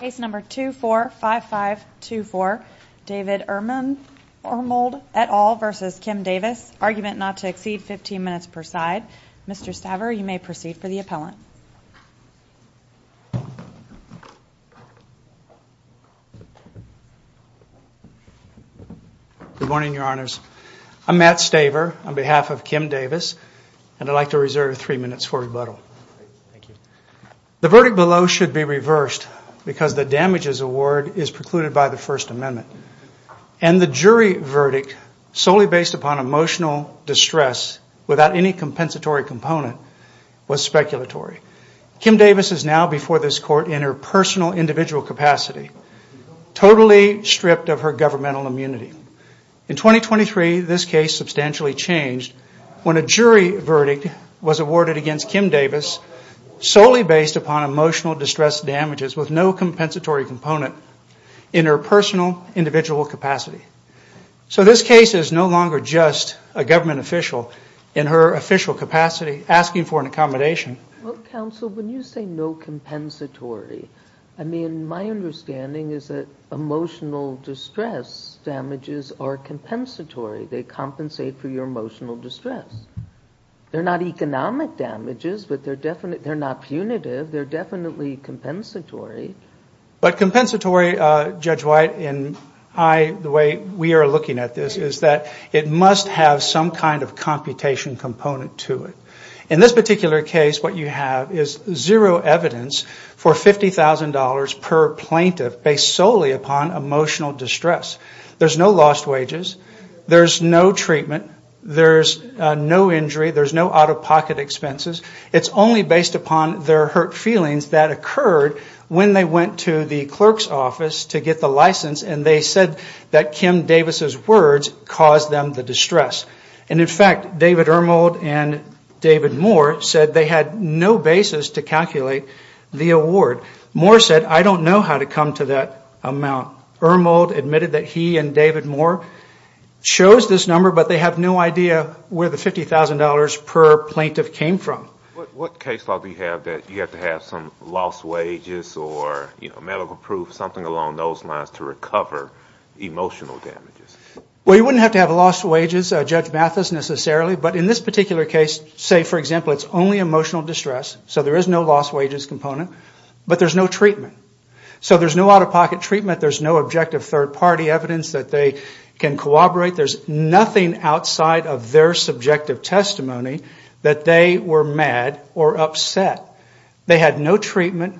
Case number 245524, David Ermold et al. v. Kim Davis. Argument not to exceed 15 minutes per side. Mr. Staver, you may proceed for the appellant. Good morning, your honors. I'm Matt Staver on behalf of Kim Davis and I'd like to reserve three minutes for rebuttal. The verdict below should be reversed because the damages award is precluded by the First Amendment and the jury verdict solely based upon emotional distress without any compensatory component was speculatory. Kim Davis is now before this court in her personal individual capacity, totally stripped of her governmental immunity. In 2023, this case substantially changed when a jury verdict was awarded against Kim Davis solely based upon emotional distress damages with no compensatory component in her personal individual capacity. So this case is no longer just a government official in her official capacity asking for an accommodation. Well, counsel, when you say no compensatory, I mean, my understanding is that emotional distress damages are compensatory. They compensate for your emotional distress. They're not economic damages, but they're not punitive. They're definitely compensatory. But compensatory, Judge White, in the way we are looking at this, is that it must have some kind of computation component to it. In this particular case, what you have is zero evidence for $50,000 per plaintiff based solely upon emotional distress. There's no lost wages. There's no treatment. There's no injury. There's no out-of-pocket expenses. It's only based upon their hurt feelings that occurred when they went to the clerk's office to get the license and they said that Kim Davis' words caused them the distress. And in fact, David Ermold and David Moore said they had no basis to calculate the award. Moore said, I don't know how to come to that amount. Ermold admitted that he and David Moore chose this number, but they have no idea where the $50,000 per plaintiff came from. What case law do you have that you have to have some lost wages or, you know, medical proof, something along those lines to recover emotional damages? Well, you wouldn't have to have lost wages, Judge Mathis, necessarily. But in this particular case, say, for example, it's only emotional distress, so there is no lost wages component, but there's no treatment. So there's no out-of-pocket treatment. There's no objective third-party evidence that they can corroborate. There's nothing outside of their subjective testimony that they were mad or upset. They had no treatment.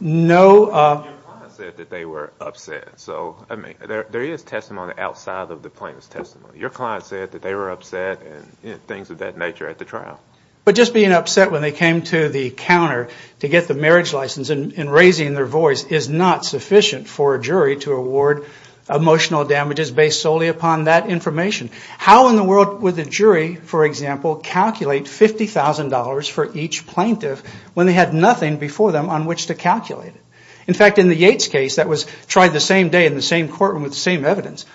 Your client said that they were upset. So, I mean, there is testimony outside of the plaintiff's testimony. Your client said that they were upset and things of that nature at the trial. But just being upset when they came to the counter to get the marriage license and raising their voice is not sufficient for a jury to award emotional damages based solely upon that information. How in the world would the jury, for example, calculate $50,000 for each plaintiff when they had nothing before them on which to calculate it? In fact, in the Yates case that was tried the same day in the same courtroom with the same evidence,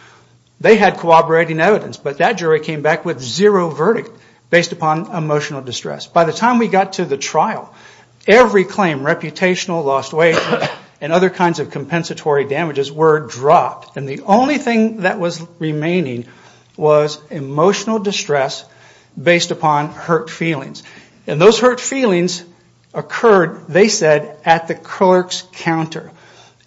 they had corroborating evidence, but that jury came back with zero verdict based upon emotional distress. By the time we got to the trial, every claim, reputational, lost wages, and other kinds of compensatory damages were dropped. And the only thing that was remaining was emotional distress based upon hurt feelings. And those hurt feelings occurred, they said, at the clerk's counter.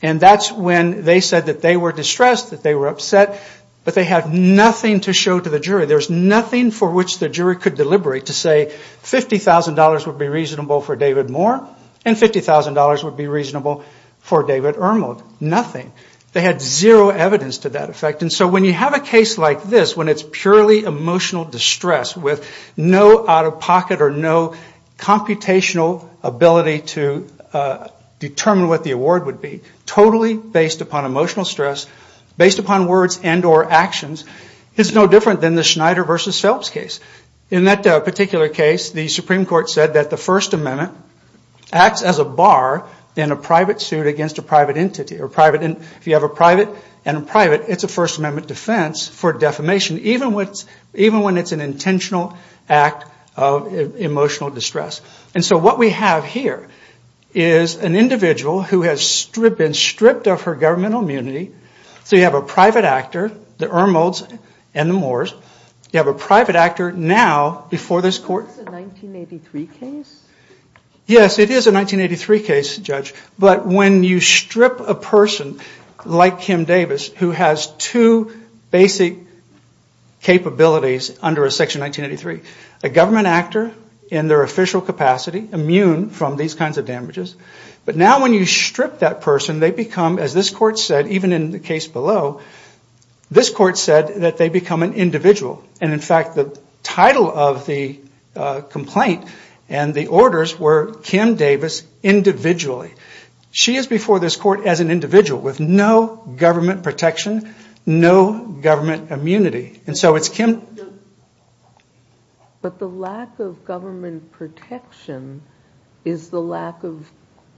And that's when they said that they were distressed, that they were upset, but they had nothing to show to the jury. There was nothing for which the jury could deliberate to say $50,000 would be reasonable for David Moore and $50,000 would be reasonable for David Ermold. Nothing. They had zero evidence to that effect. And so when you have a case like this, when it's purely emotional distress with no out-of-pocket or no computational ability to determine what the award would be, totally based upon emotional stress, based upon words and or actions, it's no different than the Schneider v. Phelps case. In that particular case, the Supreme Court said that the First Amendment acts as a bar in a private suit against a private entity. If you have a private and a private, it's a First Amendment defense for defamation, even when it's an intentional act of emotional distress. And so what we have here is an individual who has been stripped of her governmental immunity so you have a private actor, the Ermolds and the Moores, you have a private actor now before this court. Is this a 1983 case? Yes, it is a 1983 case, Judge, but when you strip a person like Kim Davis who has two basic capabilities under a Section 1983, a government actor in their official capacity, immune from these kinds of damages, but now when you strip that person, they become, as this court said, even in the case below, this court said that they become an individual. And in fact, the title of the complaint and the orders were Kim Davis individually. She is before this court as an individual with no government protection, no government immunity. And so it's Kim... But the lack of government protection is the lack of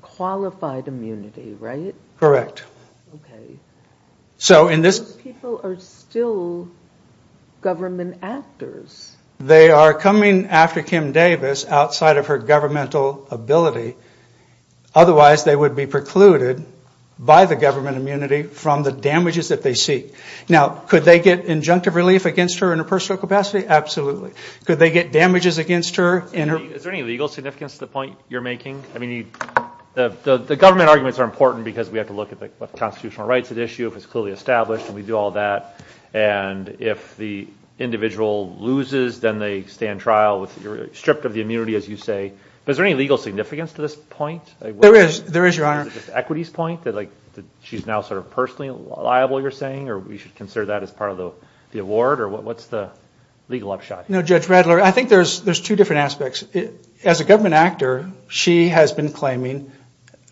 qualified immunity, right? Correct. Okay. So in this... Those people are still government actors. They are coming after Kim Davis outside of her governmental ability, otherwise they would be precluded by the government immunity from the damages that they seek. Now, could they get injunctive relief against her in a personal capacity? Absolutely. Could they get damages against her? Is there any legal significance to the point you're making? I mean, the government arguments are important because we have to look at the constitutional rights at issue, if it's clearly established, and we do all that. And if the individual loses, then they stay in trial with... You're stripped of the immunity, as you say. But is there any legal significance to this point? There is. There is, Your Honor. Is it just equity's point that she's now sort of personally liable, you're saying? Or we should consider that as part of the award? Or what's the legal upshot? No, Judge Radler, I think there's two different aspects. As a government actor, she has been claiming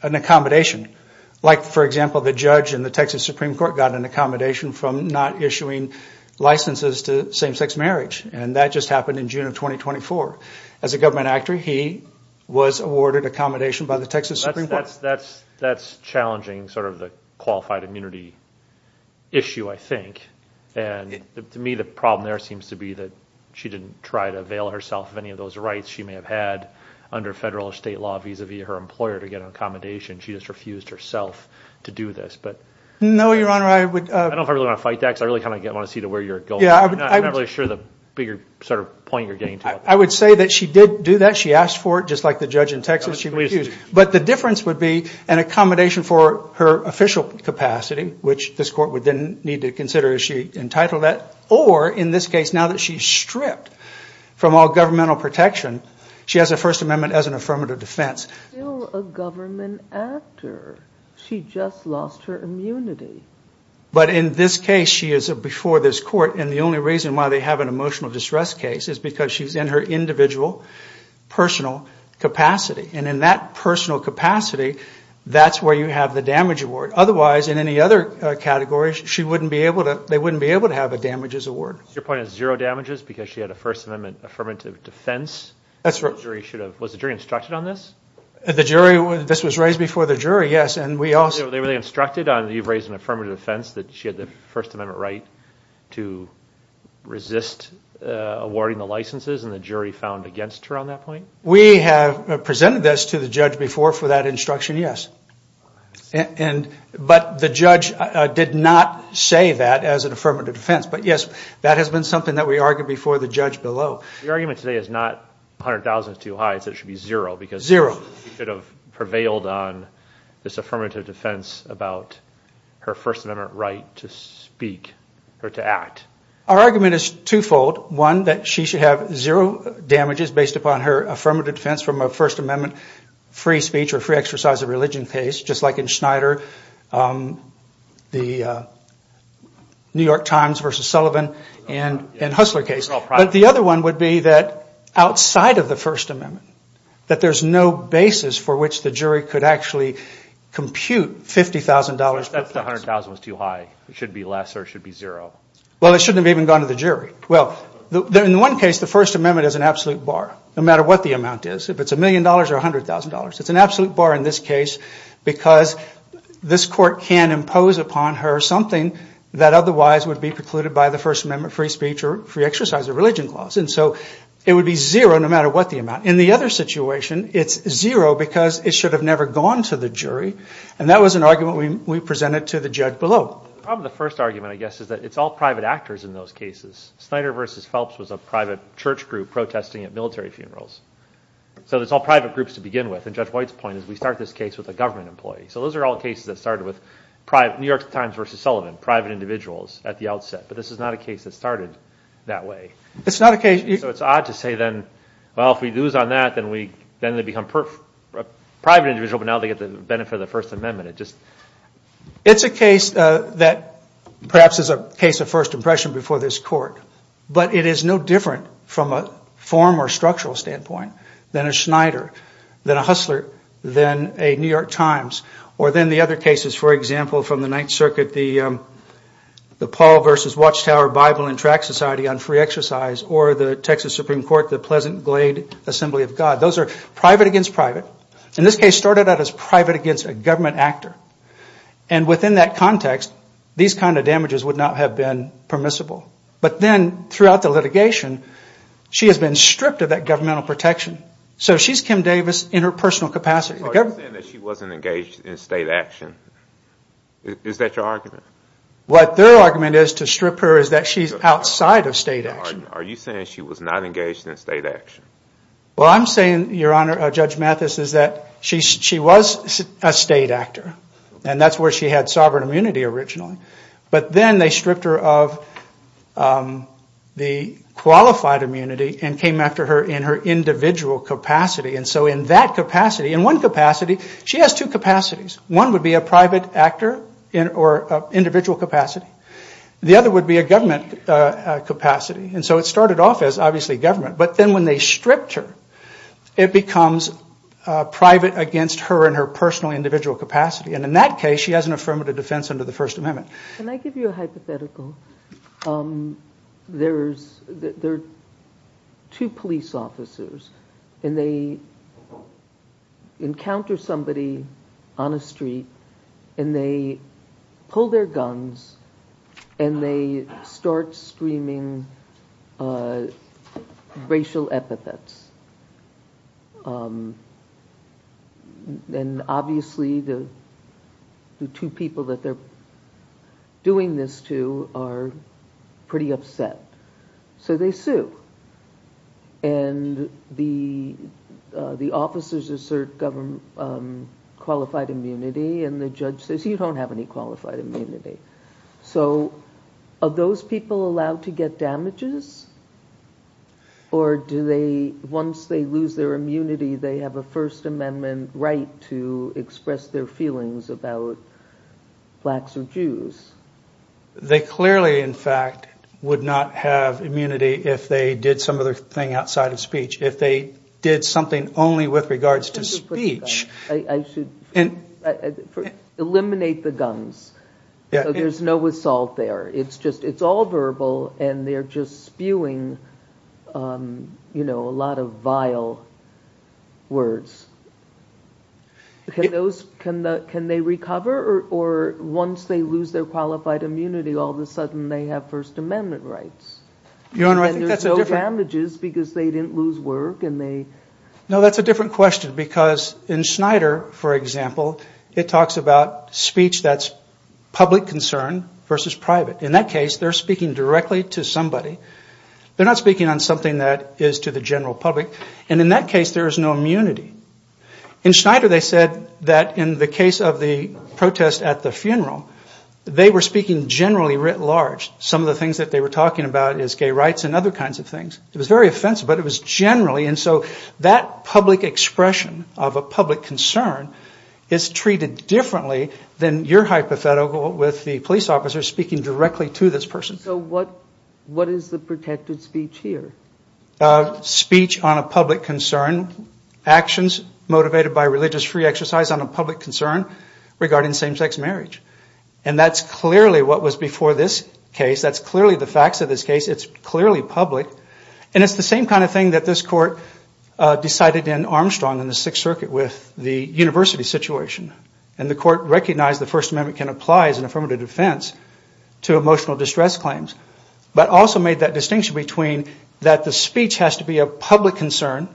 an accommodation. Like, for example, the judge in the Texas Supreme Court got an accommodation from not issuing licenses to same-sex marriage. And that just happened in June of 2024. As a government actor, he was awarded accommodation by the Texas Supreme Court. That's challenging sort of the qualified immunity issue, I think. And to me, the problem there seems to be that she didn't try to avail herself of any of those rights she may have had under federal or state law vis-a-vis her employer to get an accommodation. She just refused herself to do this. No, Your Honor, I would... I don't know if I really want to fight that, because I really kind of want to see to where you're going. I'm not really sure the bigger sort of point you're getting to. I would say that she did do that. She asked for it, just like the judge in Texas, she refused. But the difference would be an accommodation for her official capacity, which this court would then need to consider as she entitled that. Or, in this case, now that she's stripped from all governmental protection, she has a First Amendment as an affirmative defense. Still a government actor. She just lost her immunity. But in this case, she is before this court. And the only reason why they have an emotional distress case is because she's in her individual personal capacity. And in that personal capacity, that's where you have the damage award. Otherwise, in any other category, she wouldn't be able to... they wouldn't be able to have a damages award. Your point is zero damages because she had a First Amendment affirmative defense? That's right. The jury should have... was the jury instructed on this? The jury... this was raised before the jury, yes. And we also... They really instructed on... you've raised an affirmative defense that she had the First Amendment right to resist awarding the licenses, and the jury found against her on that point? We have presented this to the judge before for that instruction, yes. And... but the judge did not say that as an affirmative defense. But yes, that has been something that we argued before the judge below. Your argument today is not 100,000 is too high, it should be zero because... Zero. She should have prevailed on this affirmative defense about her First Amendment right to speak, or to act. Our argument is twofold. One, that she should have zero damages based upon her affirmative defense from a First Amendment free speech or free exercise of religion case, just like in Schneider, the New York Times v. Sullivan, and Hussler case. But the other one would be that outside of the First Amendment, that there's no basis for which the jury could actually compute $50,000. That's the 100,000 was too high. It should be less or it should be zero. Well, it shouldn't have even gone to the jury. Well, in one case, the First Amendment is an absolute bar, no matter what the amount is. If it's a million dollars or a hundred thousand dollars, it's an absolute bar in this case because this court can impose upon her something that otherwise would be precluded by the First Amendment free speech or free exercise of religion clause. And so it would be zero no matter what the amount. In the other situation, it's zero because it should have never gone to the jury. And that was an argument we presented to the judge below. Probably the first argument, I guess, is that it's all private actors in those cases. Schneider v. Phelps was a private church group protesting at military funerals. So it's all groups to begin with. And Judge White's point is we start this case with a government employee. So those are all cases that started with New York Times v. Sullivan, private individuals at the outset. But this is not a case that started that way. So it's odd to say then, well, if we lose on that, then they become a private individual, but now they get the benefit of the First Amendment. It's a case that perhaps is a case of first impression before this court, but it is no different from a form or structural standpoint than a Schneider, than a Hustler, than a New York Times, or then the other cases, for example, from the Ninth Circuit, the Paul v. Watchtower Bible and Tract Society on free exercise, or the Texas Supreme Court, the Pleasant Glade Assembly of God. Those are private against private. And this case started out as private against a government actor. And within that context, these kind of damages would not have been permissible. But then, throughout the litigation, she has been stripped of that governmental protection. So she's Kim Davis in her personal capacity. Are you saying that she wasn't engaged in state action? Is that your argument? What their argument is to strip her is that she's outside of state action. Are you saying she was not engaged in state action? Well, I'm saying, Your Honor, Judge Mathis, is that she was a state actor. And that's where she had sovereign immunity originally. But then they stripped her of the qualified immunity and came after her in her individual capacity. And so in that capacity, in one capacity, she has two capacities. One would be a private actor or individual capacity. The other would be a government capacity. And so it started off as, obviously, government. But then when they stripped her, it becomes private against her and her personal individual capacity. And in that case, she has an affirmative defense under the First Amendment. Can I give you a hypothetical? There are two police officers, and they encounter somebody on a street, and they pull their guns, and they start screaming racial epithets. And obviously, the two people that they're doing this to are pretty upset. So they sue. And the officers assert qualified immunity, and the judge says, You don't have any qualified damages? Or do they, once they lose their immunity, they have a First Amendment right to express their feelings about blacks or Jews? They clearly, in fact, would not have immunity if they did some other thing outside of speech, if they did something only with regards to speech. I should eliminate the guns. There's no assault there. It's all verbal, and they're just spewing a lot of vile words. Can they recover? Or once they lose their qualified immunity, all of a sudden, they have First Amendment rights? And there's no damages because they didn't lose work? No, that's a different question, because in Schneider, for example, it talks about speech that's public concern versus private. In that case, they're speaking directly to somebody. They're not speaking on something that is to the general public. And in that case, there is no immunity. In Schneider, they said that in the case of the protest at the funeral, they were speaking generally writ large. Some of the things that they were talking about is gay rights and other kinds of things. It was very offensive, but it was generally. And so that public expression of a public concern is treated differently than your hypothetical with the police officer speaking directly to this person. So what is the protected speech here? Speech on a public concern, actions motivated by religious free exercise on a public concern regarding same-sex marriage. And that's clearly what was before this case. That's clearly the facts of this case. It's clearly public. And it's the same kind of thing that this court decided in Armstrong in the Sixth Circuit with the university situation. And the court recognized the First Amendment can apply as an affirmative defense to emotional distress claims, but also made that distinction between that the speech has to be a public concern.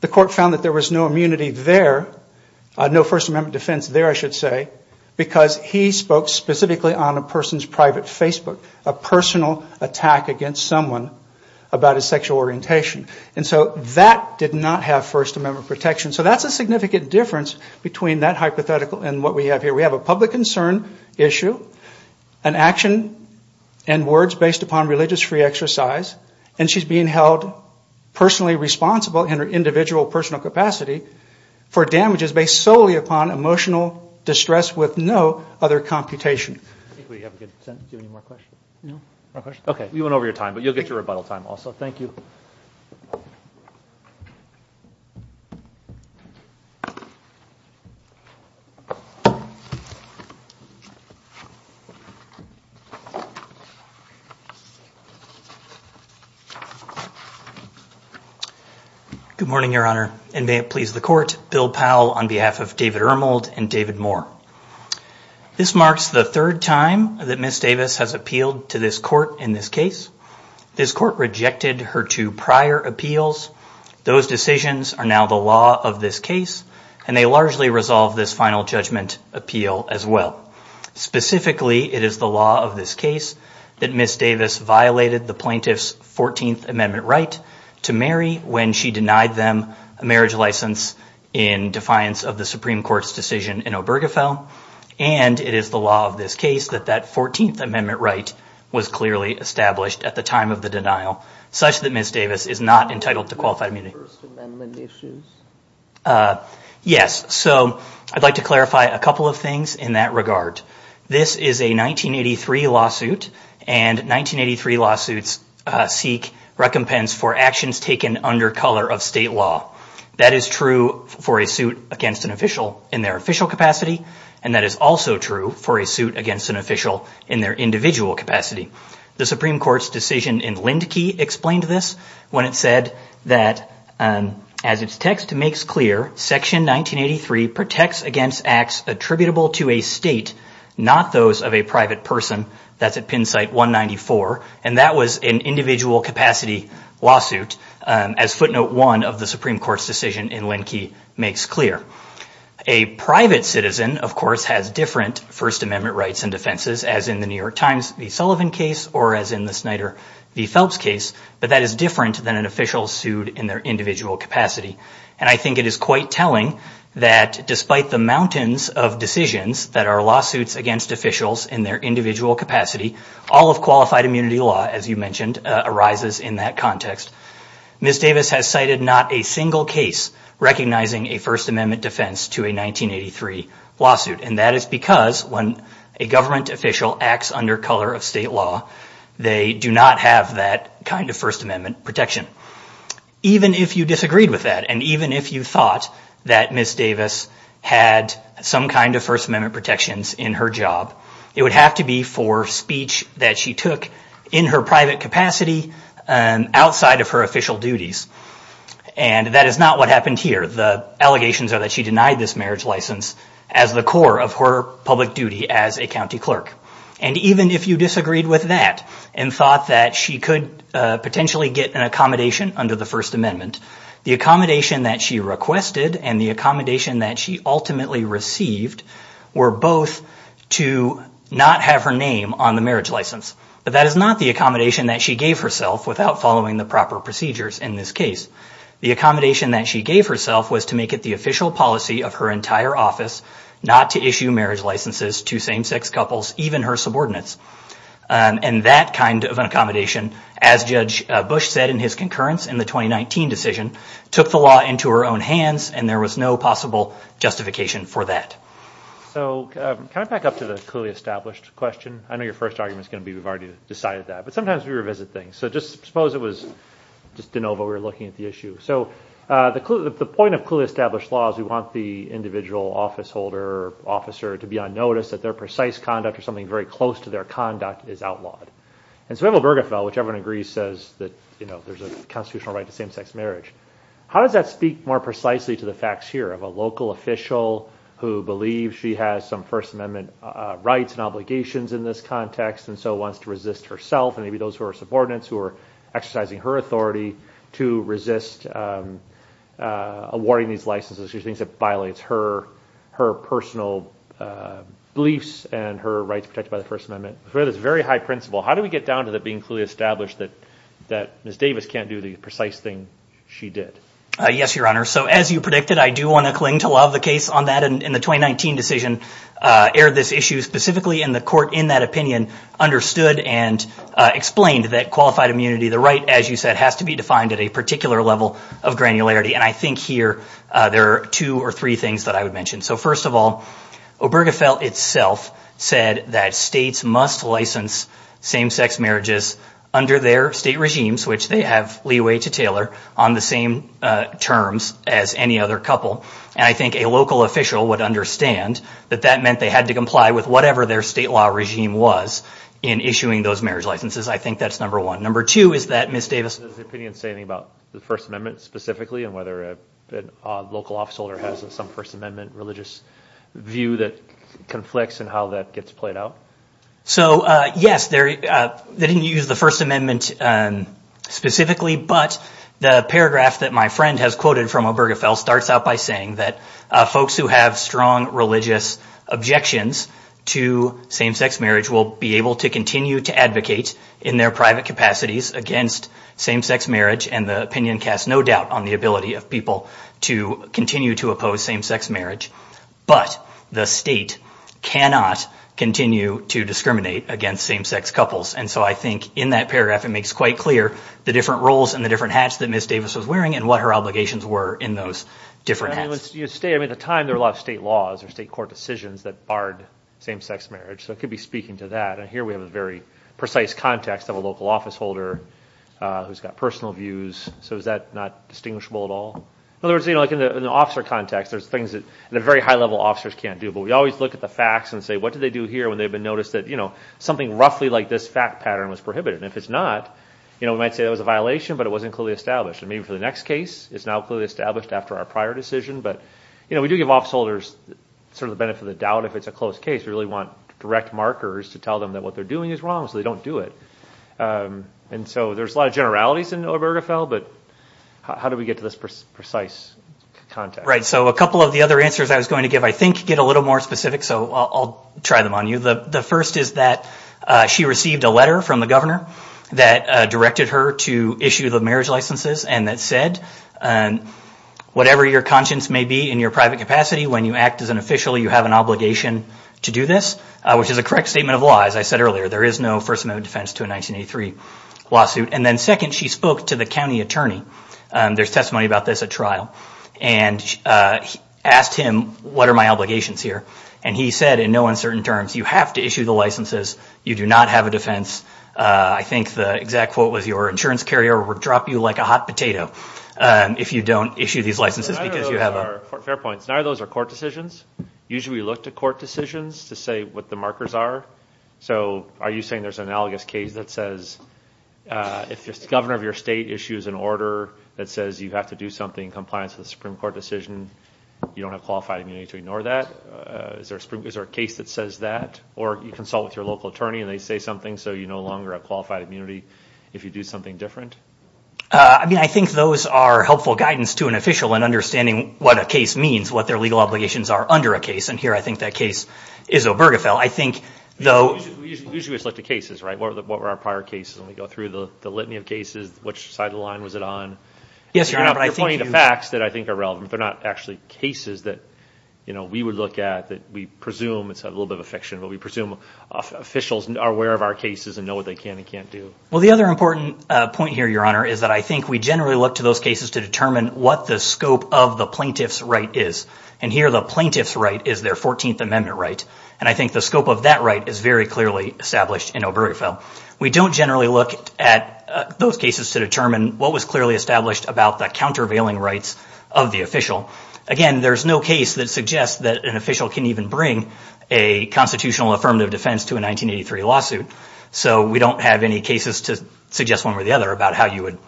The court found that there was no immunity there, no First Amendment defense there, I should say, because he spoke specifically on a person's private Facebook, a personal attack against someone about his sexual orientation. And so that did not have First Amendment protection. So that's a significant difference between that hypothetical and what we have here. We have a public concern issue, an action and words based upon religious free exercise, and she's being held personally responsible in her individual personal capacity for damages based solely upon emotional distress with no other computation. Okay, we went over your time, but you'll get your rebuttal time also. Thank you. Good morning, Your Honor, and may it please the court, Bill Powell on behalf of David Ermold and David Moore. This marks the third time that Miss Davis has appealed to this court in this case. This court rejected her two prior appeals. Those decisions are now the law of this case, and they largely resolve this final judgment appeal as well. Specifically, it is the law of this case that Miss Davis violated the plaintiff's 14th Amendment right to marry when she denied them a marriage license in defiance of the Supreme Court's decision in Obergefell. And it is the this case that that 14th Amendment right was clearly established at the time of the denial, such that Miss Davis is not entitled to qualified immunity. Yes, so I'd like to clarify a couple of things in that regard. This is a 1983 lawsuit, and 1983 lawsuits seek recompense for actions taken under color of state law. That is true for a suit against an official in their official capacity, and that is also true for a suit against an official in their individual capacity. The Supreme Court's decision in Lindkey explained this when it said that, as its text makes clear, section 1983 protects against acts attributable to a state, not those of a private person. That's at pin site 194, and that was an individual capacity lawsuit as footnote one of the Supreme of course has different First Amendment rights and defenses, as in the New York Times v. Sullivan case or as in the Snyder v. Phelps case, but that is different than an official sued in their individual capacity. And I think it is quite telling that despite the mountains of decisions that are lawsuits against officials in their individual capacity, all of qualified immunity law, as you mentioned, arises in that context. Miss Davis has cited not a single case recognizing a First Amendment defense to a 1983 lawsuit, and that is because when a government official acts under color of state law, they do not have that kind of First Amendment protection. Even if you disagreed with that, and even if you thought that Miss Davis had some kind of First Amendment protections in her job, it would have to be for speech that she took in her private capacity outside of her official duties. And that is not what happened here. The allegations are that she denied this marriage license as the core of her public duty as a county clerk. And even if you disagreed with that and thought that she could potentially get an accommodation under the First Amendment, the accommodation that she requested and the accommodation that she ultimately received were both to not have her name on the marriage license. But that is not the accommodation that she gave herself without following the proper procedures in this case. The accommodation that she gave herself was to make it the official policy of her entire office not to issue marriage licenses to same-sex couples, even her subordinates. And that kind of an accommodation, as Judge Bush said in his concurrence in the 2019 decision, took the law into her own hands, and there was no possible justification for that. So can I back up to the clearly established question? I know your first argument is going to be we've already decided that, but sometimes we revisit things. So just suppose it was just de novo, we were looking at the issue. So the point of clearly established law is we want the individual office holder or officer to be on notice that their precise conduct or something very close to their conduct is outlawed. And so Abel Bergefell, whichever one agrees, says that there's a constitutional right to same-sex marriage. How does that speak more precisely to the facts here of a local official who believes she has some First Amendment rights and obligations in this context and so wants to resist herself and maybe those who are subordinates who are exercising her authority to resist awarding these licenses? She thinks it violates her personal beliefs and her rights protected by the First Amendment. So it's a very high principle. How do we get down to that being clearly established that Ms. Davis can't do the precise thing she did? Yes, Your Honor. So as you predicted, I do want to cling to love the case on that. And in the 2019 decision, aired this issue specifically in the court in that opinion, understood and explained that qualified immunity, the right, as you said, has to be defined at a particular level of granularity. And I think here there are two or three things that I would mention. So first of all, Obergefell itself said that states must license same-sex marriages under their state regimes, which they have leeway to tailor on the same terms as any other couple. And I think a local official would understand that that meant they had to comply with whatever their state law regime was in issuing those marriage licenses. I think that's number one. Number two is that Ms. Davis... Does the opinion say anything about the First Amendment specifically and whether a local officeholder has some First Amendment religious view that conflicts and how that gets played out? So yes, they didn't use the First Amendment specifically, but the paragraph that my friend has quoted from Obergefell starts out by saying that folks who have strong religious objections to same-sex marriage will be able to continue to advocate in their private capacities against same-sex marriage. And the opinion casts no doubt on the ability of people to continue to oppose same-sex marriage, but the state cannot continue to discriminate against same-sex couples. And so I think in that paragraph it makes quite clear the different roles and the different hats that Ms. Davis was wearing and what her obligations were in those different hats. At the time, there were a lot of state laws or state court decisions that barred same-sex marriage. So it could be speaking to that. And here we have a very precise context of a local officeholder who's got personal views. So is that not distinguishable at all? In other words, like in the officer context, there's things that the very high-level officers can't do, but we always look at the facts and say, what did they do here when they've been noticed that something roughly like this fact pattern was prohibited? And if it's not, we might say it was a violation, but it wasn't clearly established. And maybe for the next case, it's now clearly established after our prior decision. But we do give officeholders sort of the benefit of the doubt if it's a close case. We really want direct markers to tell them that what they're doing is wrong, so they don't do it. And so there's a lot of generalities in Obergefell, but how do we get this precise context? Right. So a couple of the other answers I was going to give, I think, get a little more specific. So I'll try them on you. The first is that she received a letter from the governor that directed her to issue the marriage licenses and that said, whatever your conscience may be in your private capacity, when you act as an official, you have an obligation to do this, which is a correct statement of law. As I said earlier, there is no First Amendment defense to a 1983 lawsuit. And then second, she spoke to the county attorney. There's testimony about this at trial. And asked him, what are my obligations here? And he said, in no uncertain terms, you have to issue the licenses. You do not have a defense. I think the exact quote was, your insurance carrier will drop you like a hot potato if you don't issue these licenses because you have a... Fair points. None of those are court decisions. Usually we look to court decisions to what the markers are. So are you saying there's an analogous case that says, if the governor of your state issues an order that says you have to do something in compliance with the Supreme Court decision, you don't have qualified immunity to ignore that? Is there a case that says that? Or you consult with your local attorney and they say something, so you no longer have qualified immunity if you do something different? I think those are helpful guidance to an official in understanding what a case means, what their legal obligations are under a case. And here I think that case is Obergefell. We usually look to cases, right? What were our prior cases? When we go through the litany of cases, which side of the line was it on? Yes, Your Honor. You're pointing to facts that I think are relevant, but not actually cases that we would look at, that we presume, it's a little bit of a fiction, but we presume officials are aware of our cases and know what they can and can't do. Well, the other important point here, Your Honor, is that I think we generally look to those cases to determine what the scope of the plaintiff's right is. And here the plaintiff's right is their 14th Amendment right. And I think the scope of that right is very clearly established in Obergefell. We don't generally look at those cases to determine what was clearly established about the countervailing rights of the official. Again, there's no case that suggests that an official can even bring a constitutional affirmative defense to a 1983 lawsuit. So we don't have any cases to suggest one or the other about how you would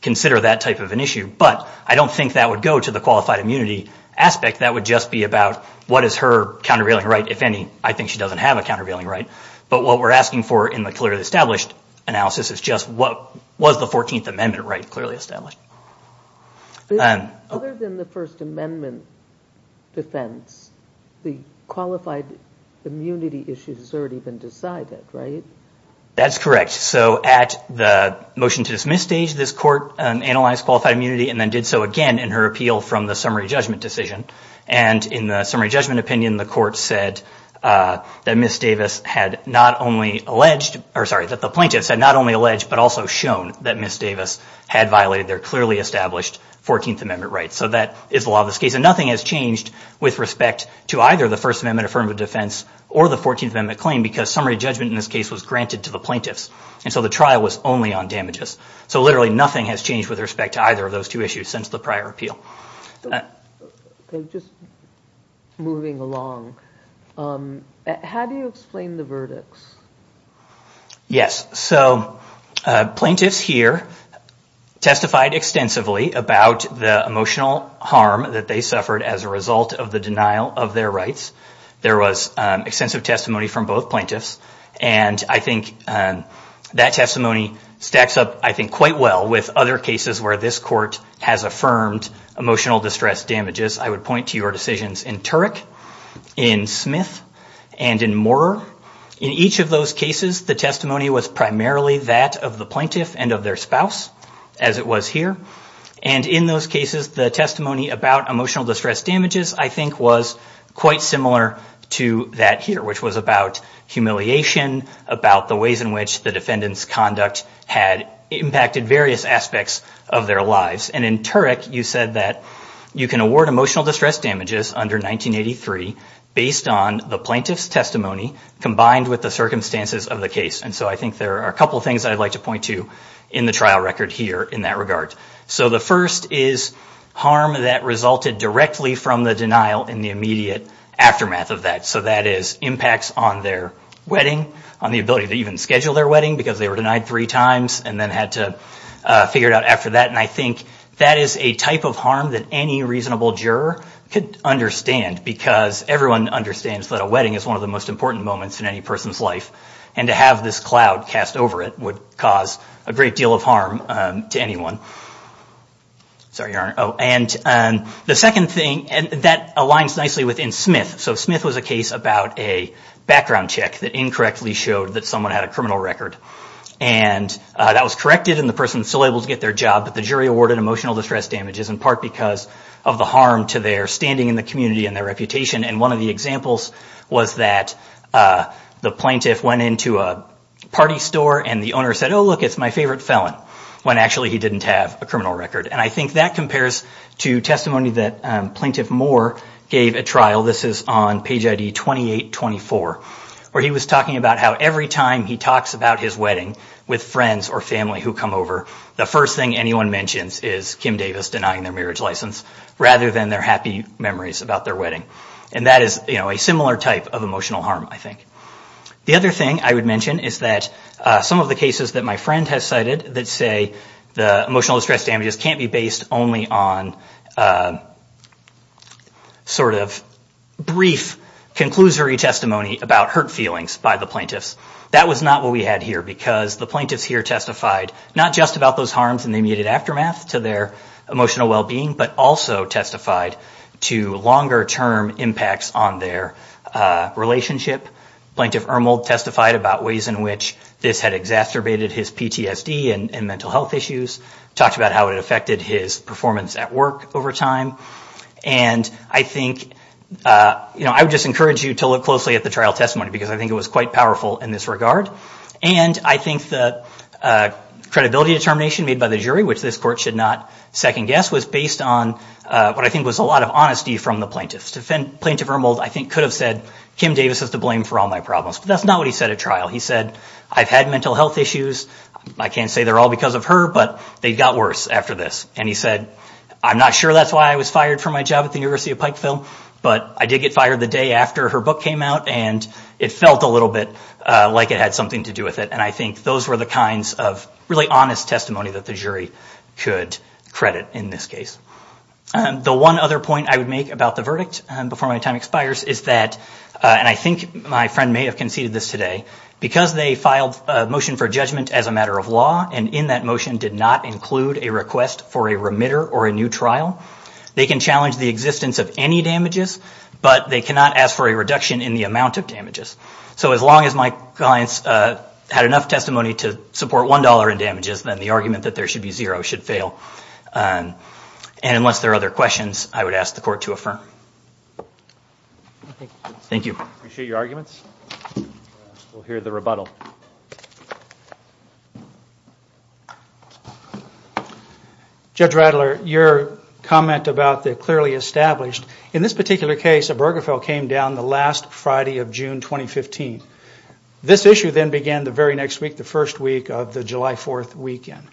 consider that type of an issue. But I don't think that would go to the qualified immunity aspect. That would just be about what is her countervailing right, if any. I think she doesn't have a countervailing right. But what we're asking for in the clearly established analysis is just what was the 14th Amendment right clearly established. Other than the First Amendment defense, the qualified immunity issue has already been decided, right? That's correct. So at the motion to dismiss stage, this court analyzed qualified immunity and then did so again in her appeal from the summary judgment decision. And in the summary judgment opinion, the court said that the plaintiffs had not only alleged but also shown that Ms. Davis had violated their clearly established 14th Amendment rights. So that is the law of this case. And nothing has changed with respect to either the First Amendment affirmative defense or the 14th Amendment claim because summary judgment in this case was granted to the plaintiffs. And so the trial was only on damages. So literally nothing has changed with respect to either of those two issues since the prior appeal. Just moving along, how do you explain the verdicts? Yes. So plaintiffs here testified extensively about the emotional harm that they suffered. There was extensive testimony from both plaintiffs. And I think that testimony stacks up, I think, quite well with other cases where this court has affirmed emotional distress damages. I would point to your decisions in Turek, in Smith, and in Moorer. In each of those cases, the testimony was primarily that of the plaintiff and of their spouse, as it was here. And in those cases, the testimony about emotional distress damages, I think, was quite similar to that here, which was about humiliation, about the ways in which the defendant's conduct had impacted various aspects of their lives. And in Turek, you said that you can award emotional distress damages under 1983 based on the plaintiff's testimony combined with the circumstances of the case. And so I think there are a couple of things I'd like to point to in the trial record here in that regard. So the first is harm that resulted directly from the denial in the immediate aftermath of that. So that is impacts on their wedding, on the ability to even schedule their wedding because they were denied three times and then had to figure it out after that. And I think that is a type of harm that any reasonable juror could understand because everyone understands that a wedding is one of the most important moments in any person's life. And to have this cloud cast over it would cause a great deal of harm to anyone. And the second thing, and that aligns nicely within Smith. So Smith was a case about a background check that incorrectly showed that someone had a criminal record. And that was corrected and the person was still able to get their job, but the jury awarded emotional distress damages in part because of the harm to their standing in the community and their reputation. And one of the examples was that the plaintiff went into a party store and the owner said, oh look, it's my favorite felon, when actually he didn't have a criminal record. And I think that compares to testimony that Plaintiff Moore gave at trial. This is on page ID 2824 where he was talking about how every time he talks about his wedding with friends or family who come over, the first thing anyone mentions is Kim Davis denying their marriage license rather than their happy memories about their wedding. And that is a similar type of emotional harm, I think. The other thing I would mention is that some of the cases that my friend has cited that say the emotional distress damages can't be based only on sort of brief conclusory testimony about hurt feelings by the plaintiffs. That was not what we had here because the plaintiffs here testified not just about those harms and the immediate aftermath to their emotional well-being, but also testified to longer-term impacts on their relationship. Plaintiff Ermold testified about ways in which this had exacerbated his PTSD and mental health issues, talked about how it affected his performance at work over time. And I think, you know, I would just encourage you to look closely at the trial testimony because I think it was quite powerful in this regard. And I think the credibility determination made by the jury, which this court should not second-guess, was based on what I think was a lot of honesty from the plaintiffs. Plaintiff Ermold, I think, could have said, Kim Davis is to blame for all my problems. But that's not what he said at trial. He said, I've had mental health issues. I can't say they're all because of her, but they got worse after this. And he said, I'm not sure that's why I was fired from my job at the University of Pikeville, but I did get fired the day after her book came out and it felt a little bit like it had something to do with it. And I think those were the kinds of really honest testimony that the jury could credit in this case. The one other point I would make about the verdict before my time expires is that, and I think my friend may have conceded this today, because they filed a motion for judgment as a matter of law and in that motion did not include a request for a remitter or a new trial, they can challenge the existence of any damages, but they cannot ask for a reduction in the amount of damages. So as long as my clients had enough testimony to support $1 in damages, then the argument that there should be zero should fail. And unless there are other questions, I would ask the court to affirm. Thank you. Appreciate your arguments. We'll hear the rebuttal. Judge Radler, your comment about the clearly established, in this particular case, a burger fell came down the last Friday of June 2015. This issue then began the very next week, the first week of the July 4th weekend.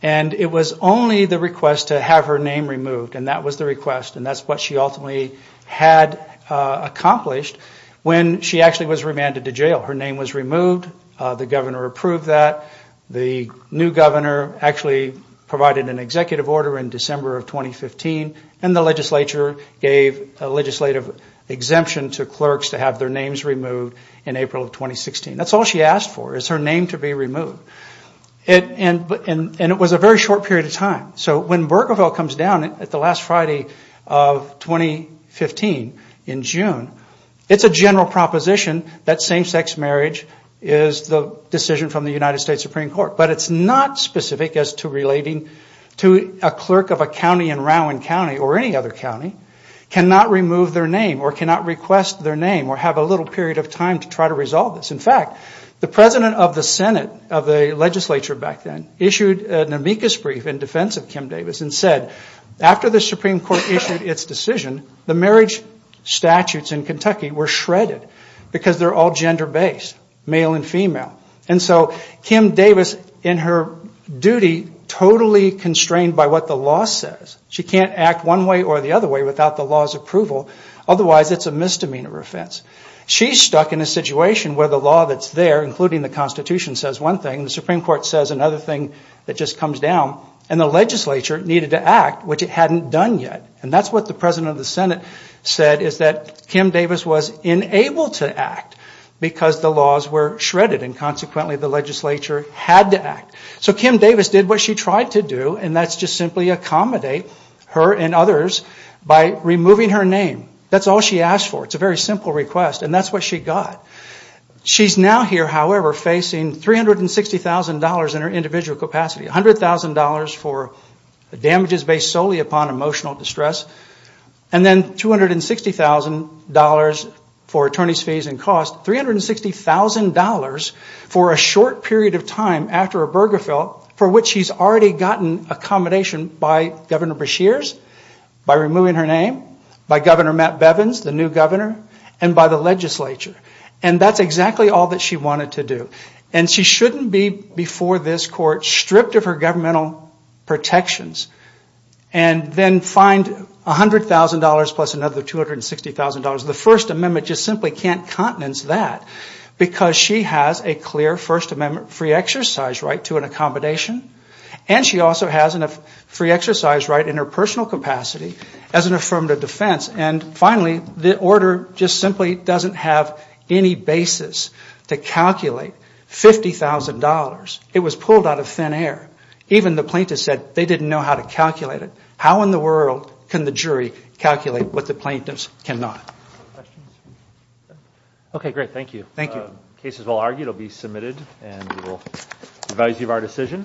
And it was only the request to have her name removed, and that was the request, and that's what she ultimately had accomplished when she actually was remanded to jail. Her name was removed, the governor approved that, the new governor actually provided an executive order in December of 2015, and the legislature gave a legislative exemption to clerks to have their names removed in April of 2016. That's all she asked for, is her name to be removed. And it was a very short period of time. So when Burgerville comes down at the last Friday of 2015, in June, it's a general proposition that same-sex marriage is the decision from the United States Supreme Court. But it's not specific as to relating to a clerk of a county in Rowan County, or any other county, cannot remove their name, or cannot request their name, or have a little period of time to try to resolve this. In fact, the president of the Senate, of the legislature back then, issued an amicus brief in defense of Kim Davis, and said, after the Supreme Court issued its decision, the marriage statutes in Kentucky were shredded, because they're all gender-based, male and female. And so Kim Davis, in her duty, totally constrained by what the law says. She can't act one way or the other without the law's approval. Otherwise, it's a misdemeanor offense. She's stuck in a situation where the law that's there, including the Constitution, says one thing. The Supreme Court says another thing that just comes down. And the legislature needed to act, which it hadn't done yet. And that's what the president of the Senate said, is that Kim Davis was unable to act, because the laws were shredded. And consequently, the legislature had to act. So Kim Davis did what she tried to do, and that's just simply accommodate her and others by removing her name. That's all she asked for. It's a very simple request, and that's what she got. She's now here, however, facing $360,000 in her individual capacity. $100,000 for damages based solely upon emotional distress, and then $260,000 for attorney's fees and costs. $360,000 for a short period of time after a burger fill, for which she's already gotten accommodation by Governor Beshears, by removing her name, by Governor Matt Bevins, the new governor, and by the legislature. And that's exactly all that she wanted to do. And she shouldn't be, before this court, stripped of her governmental protections, and then find $100,000 plus another $260,000. The First Amendment just simply can't countenance that, because she has a clear First Amendment free exercise right to an accommodation, and she also has a free exercise right in her personal capacity as an affirmative defense. And finally, the order just simply doesn't have any basis to calculate $50,000. It was pulled out of thin air. Even the plaintiffs said they didn't know how to calculate it. How in the world can the jury calculate what the plaintiffs cannot? Okay, great. Thank you. Cases well argued will be submitted, and we will advise you of our decision.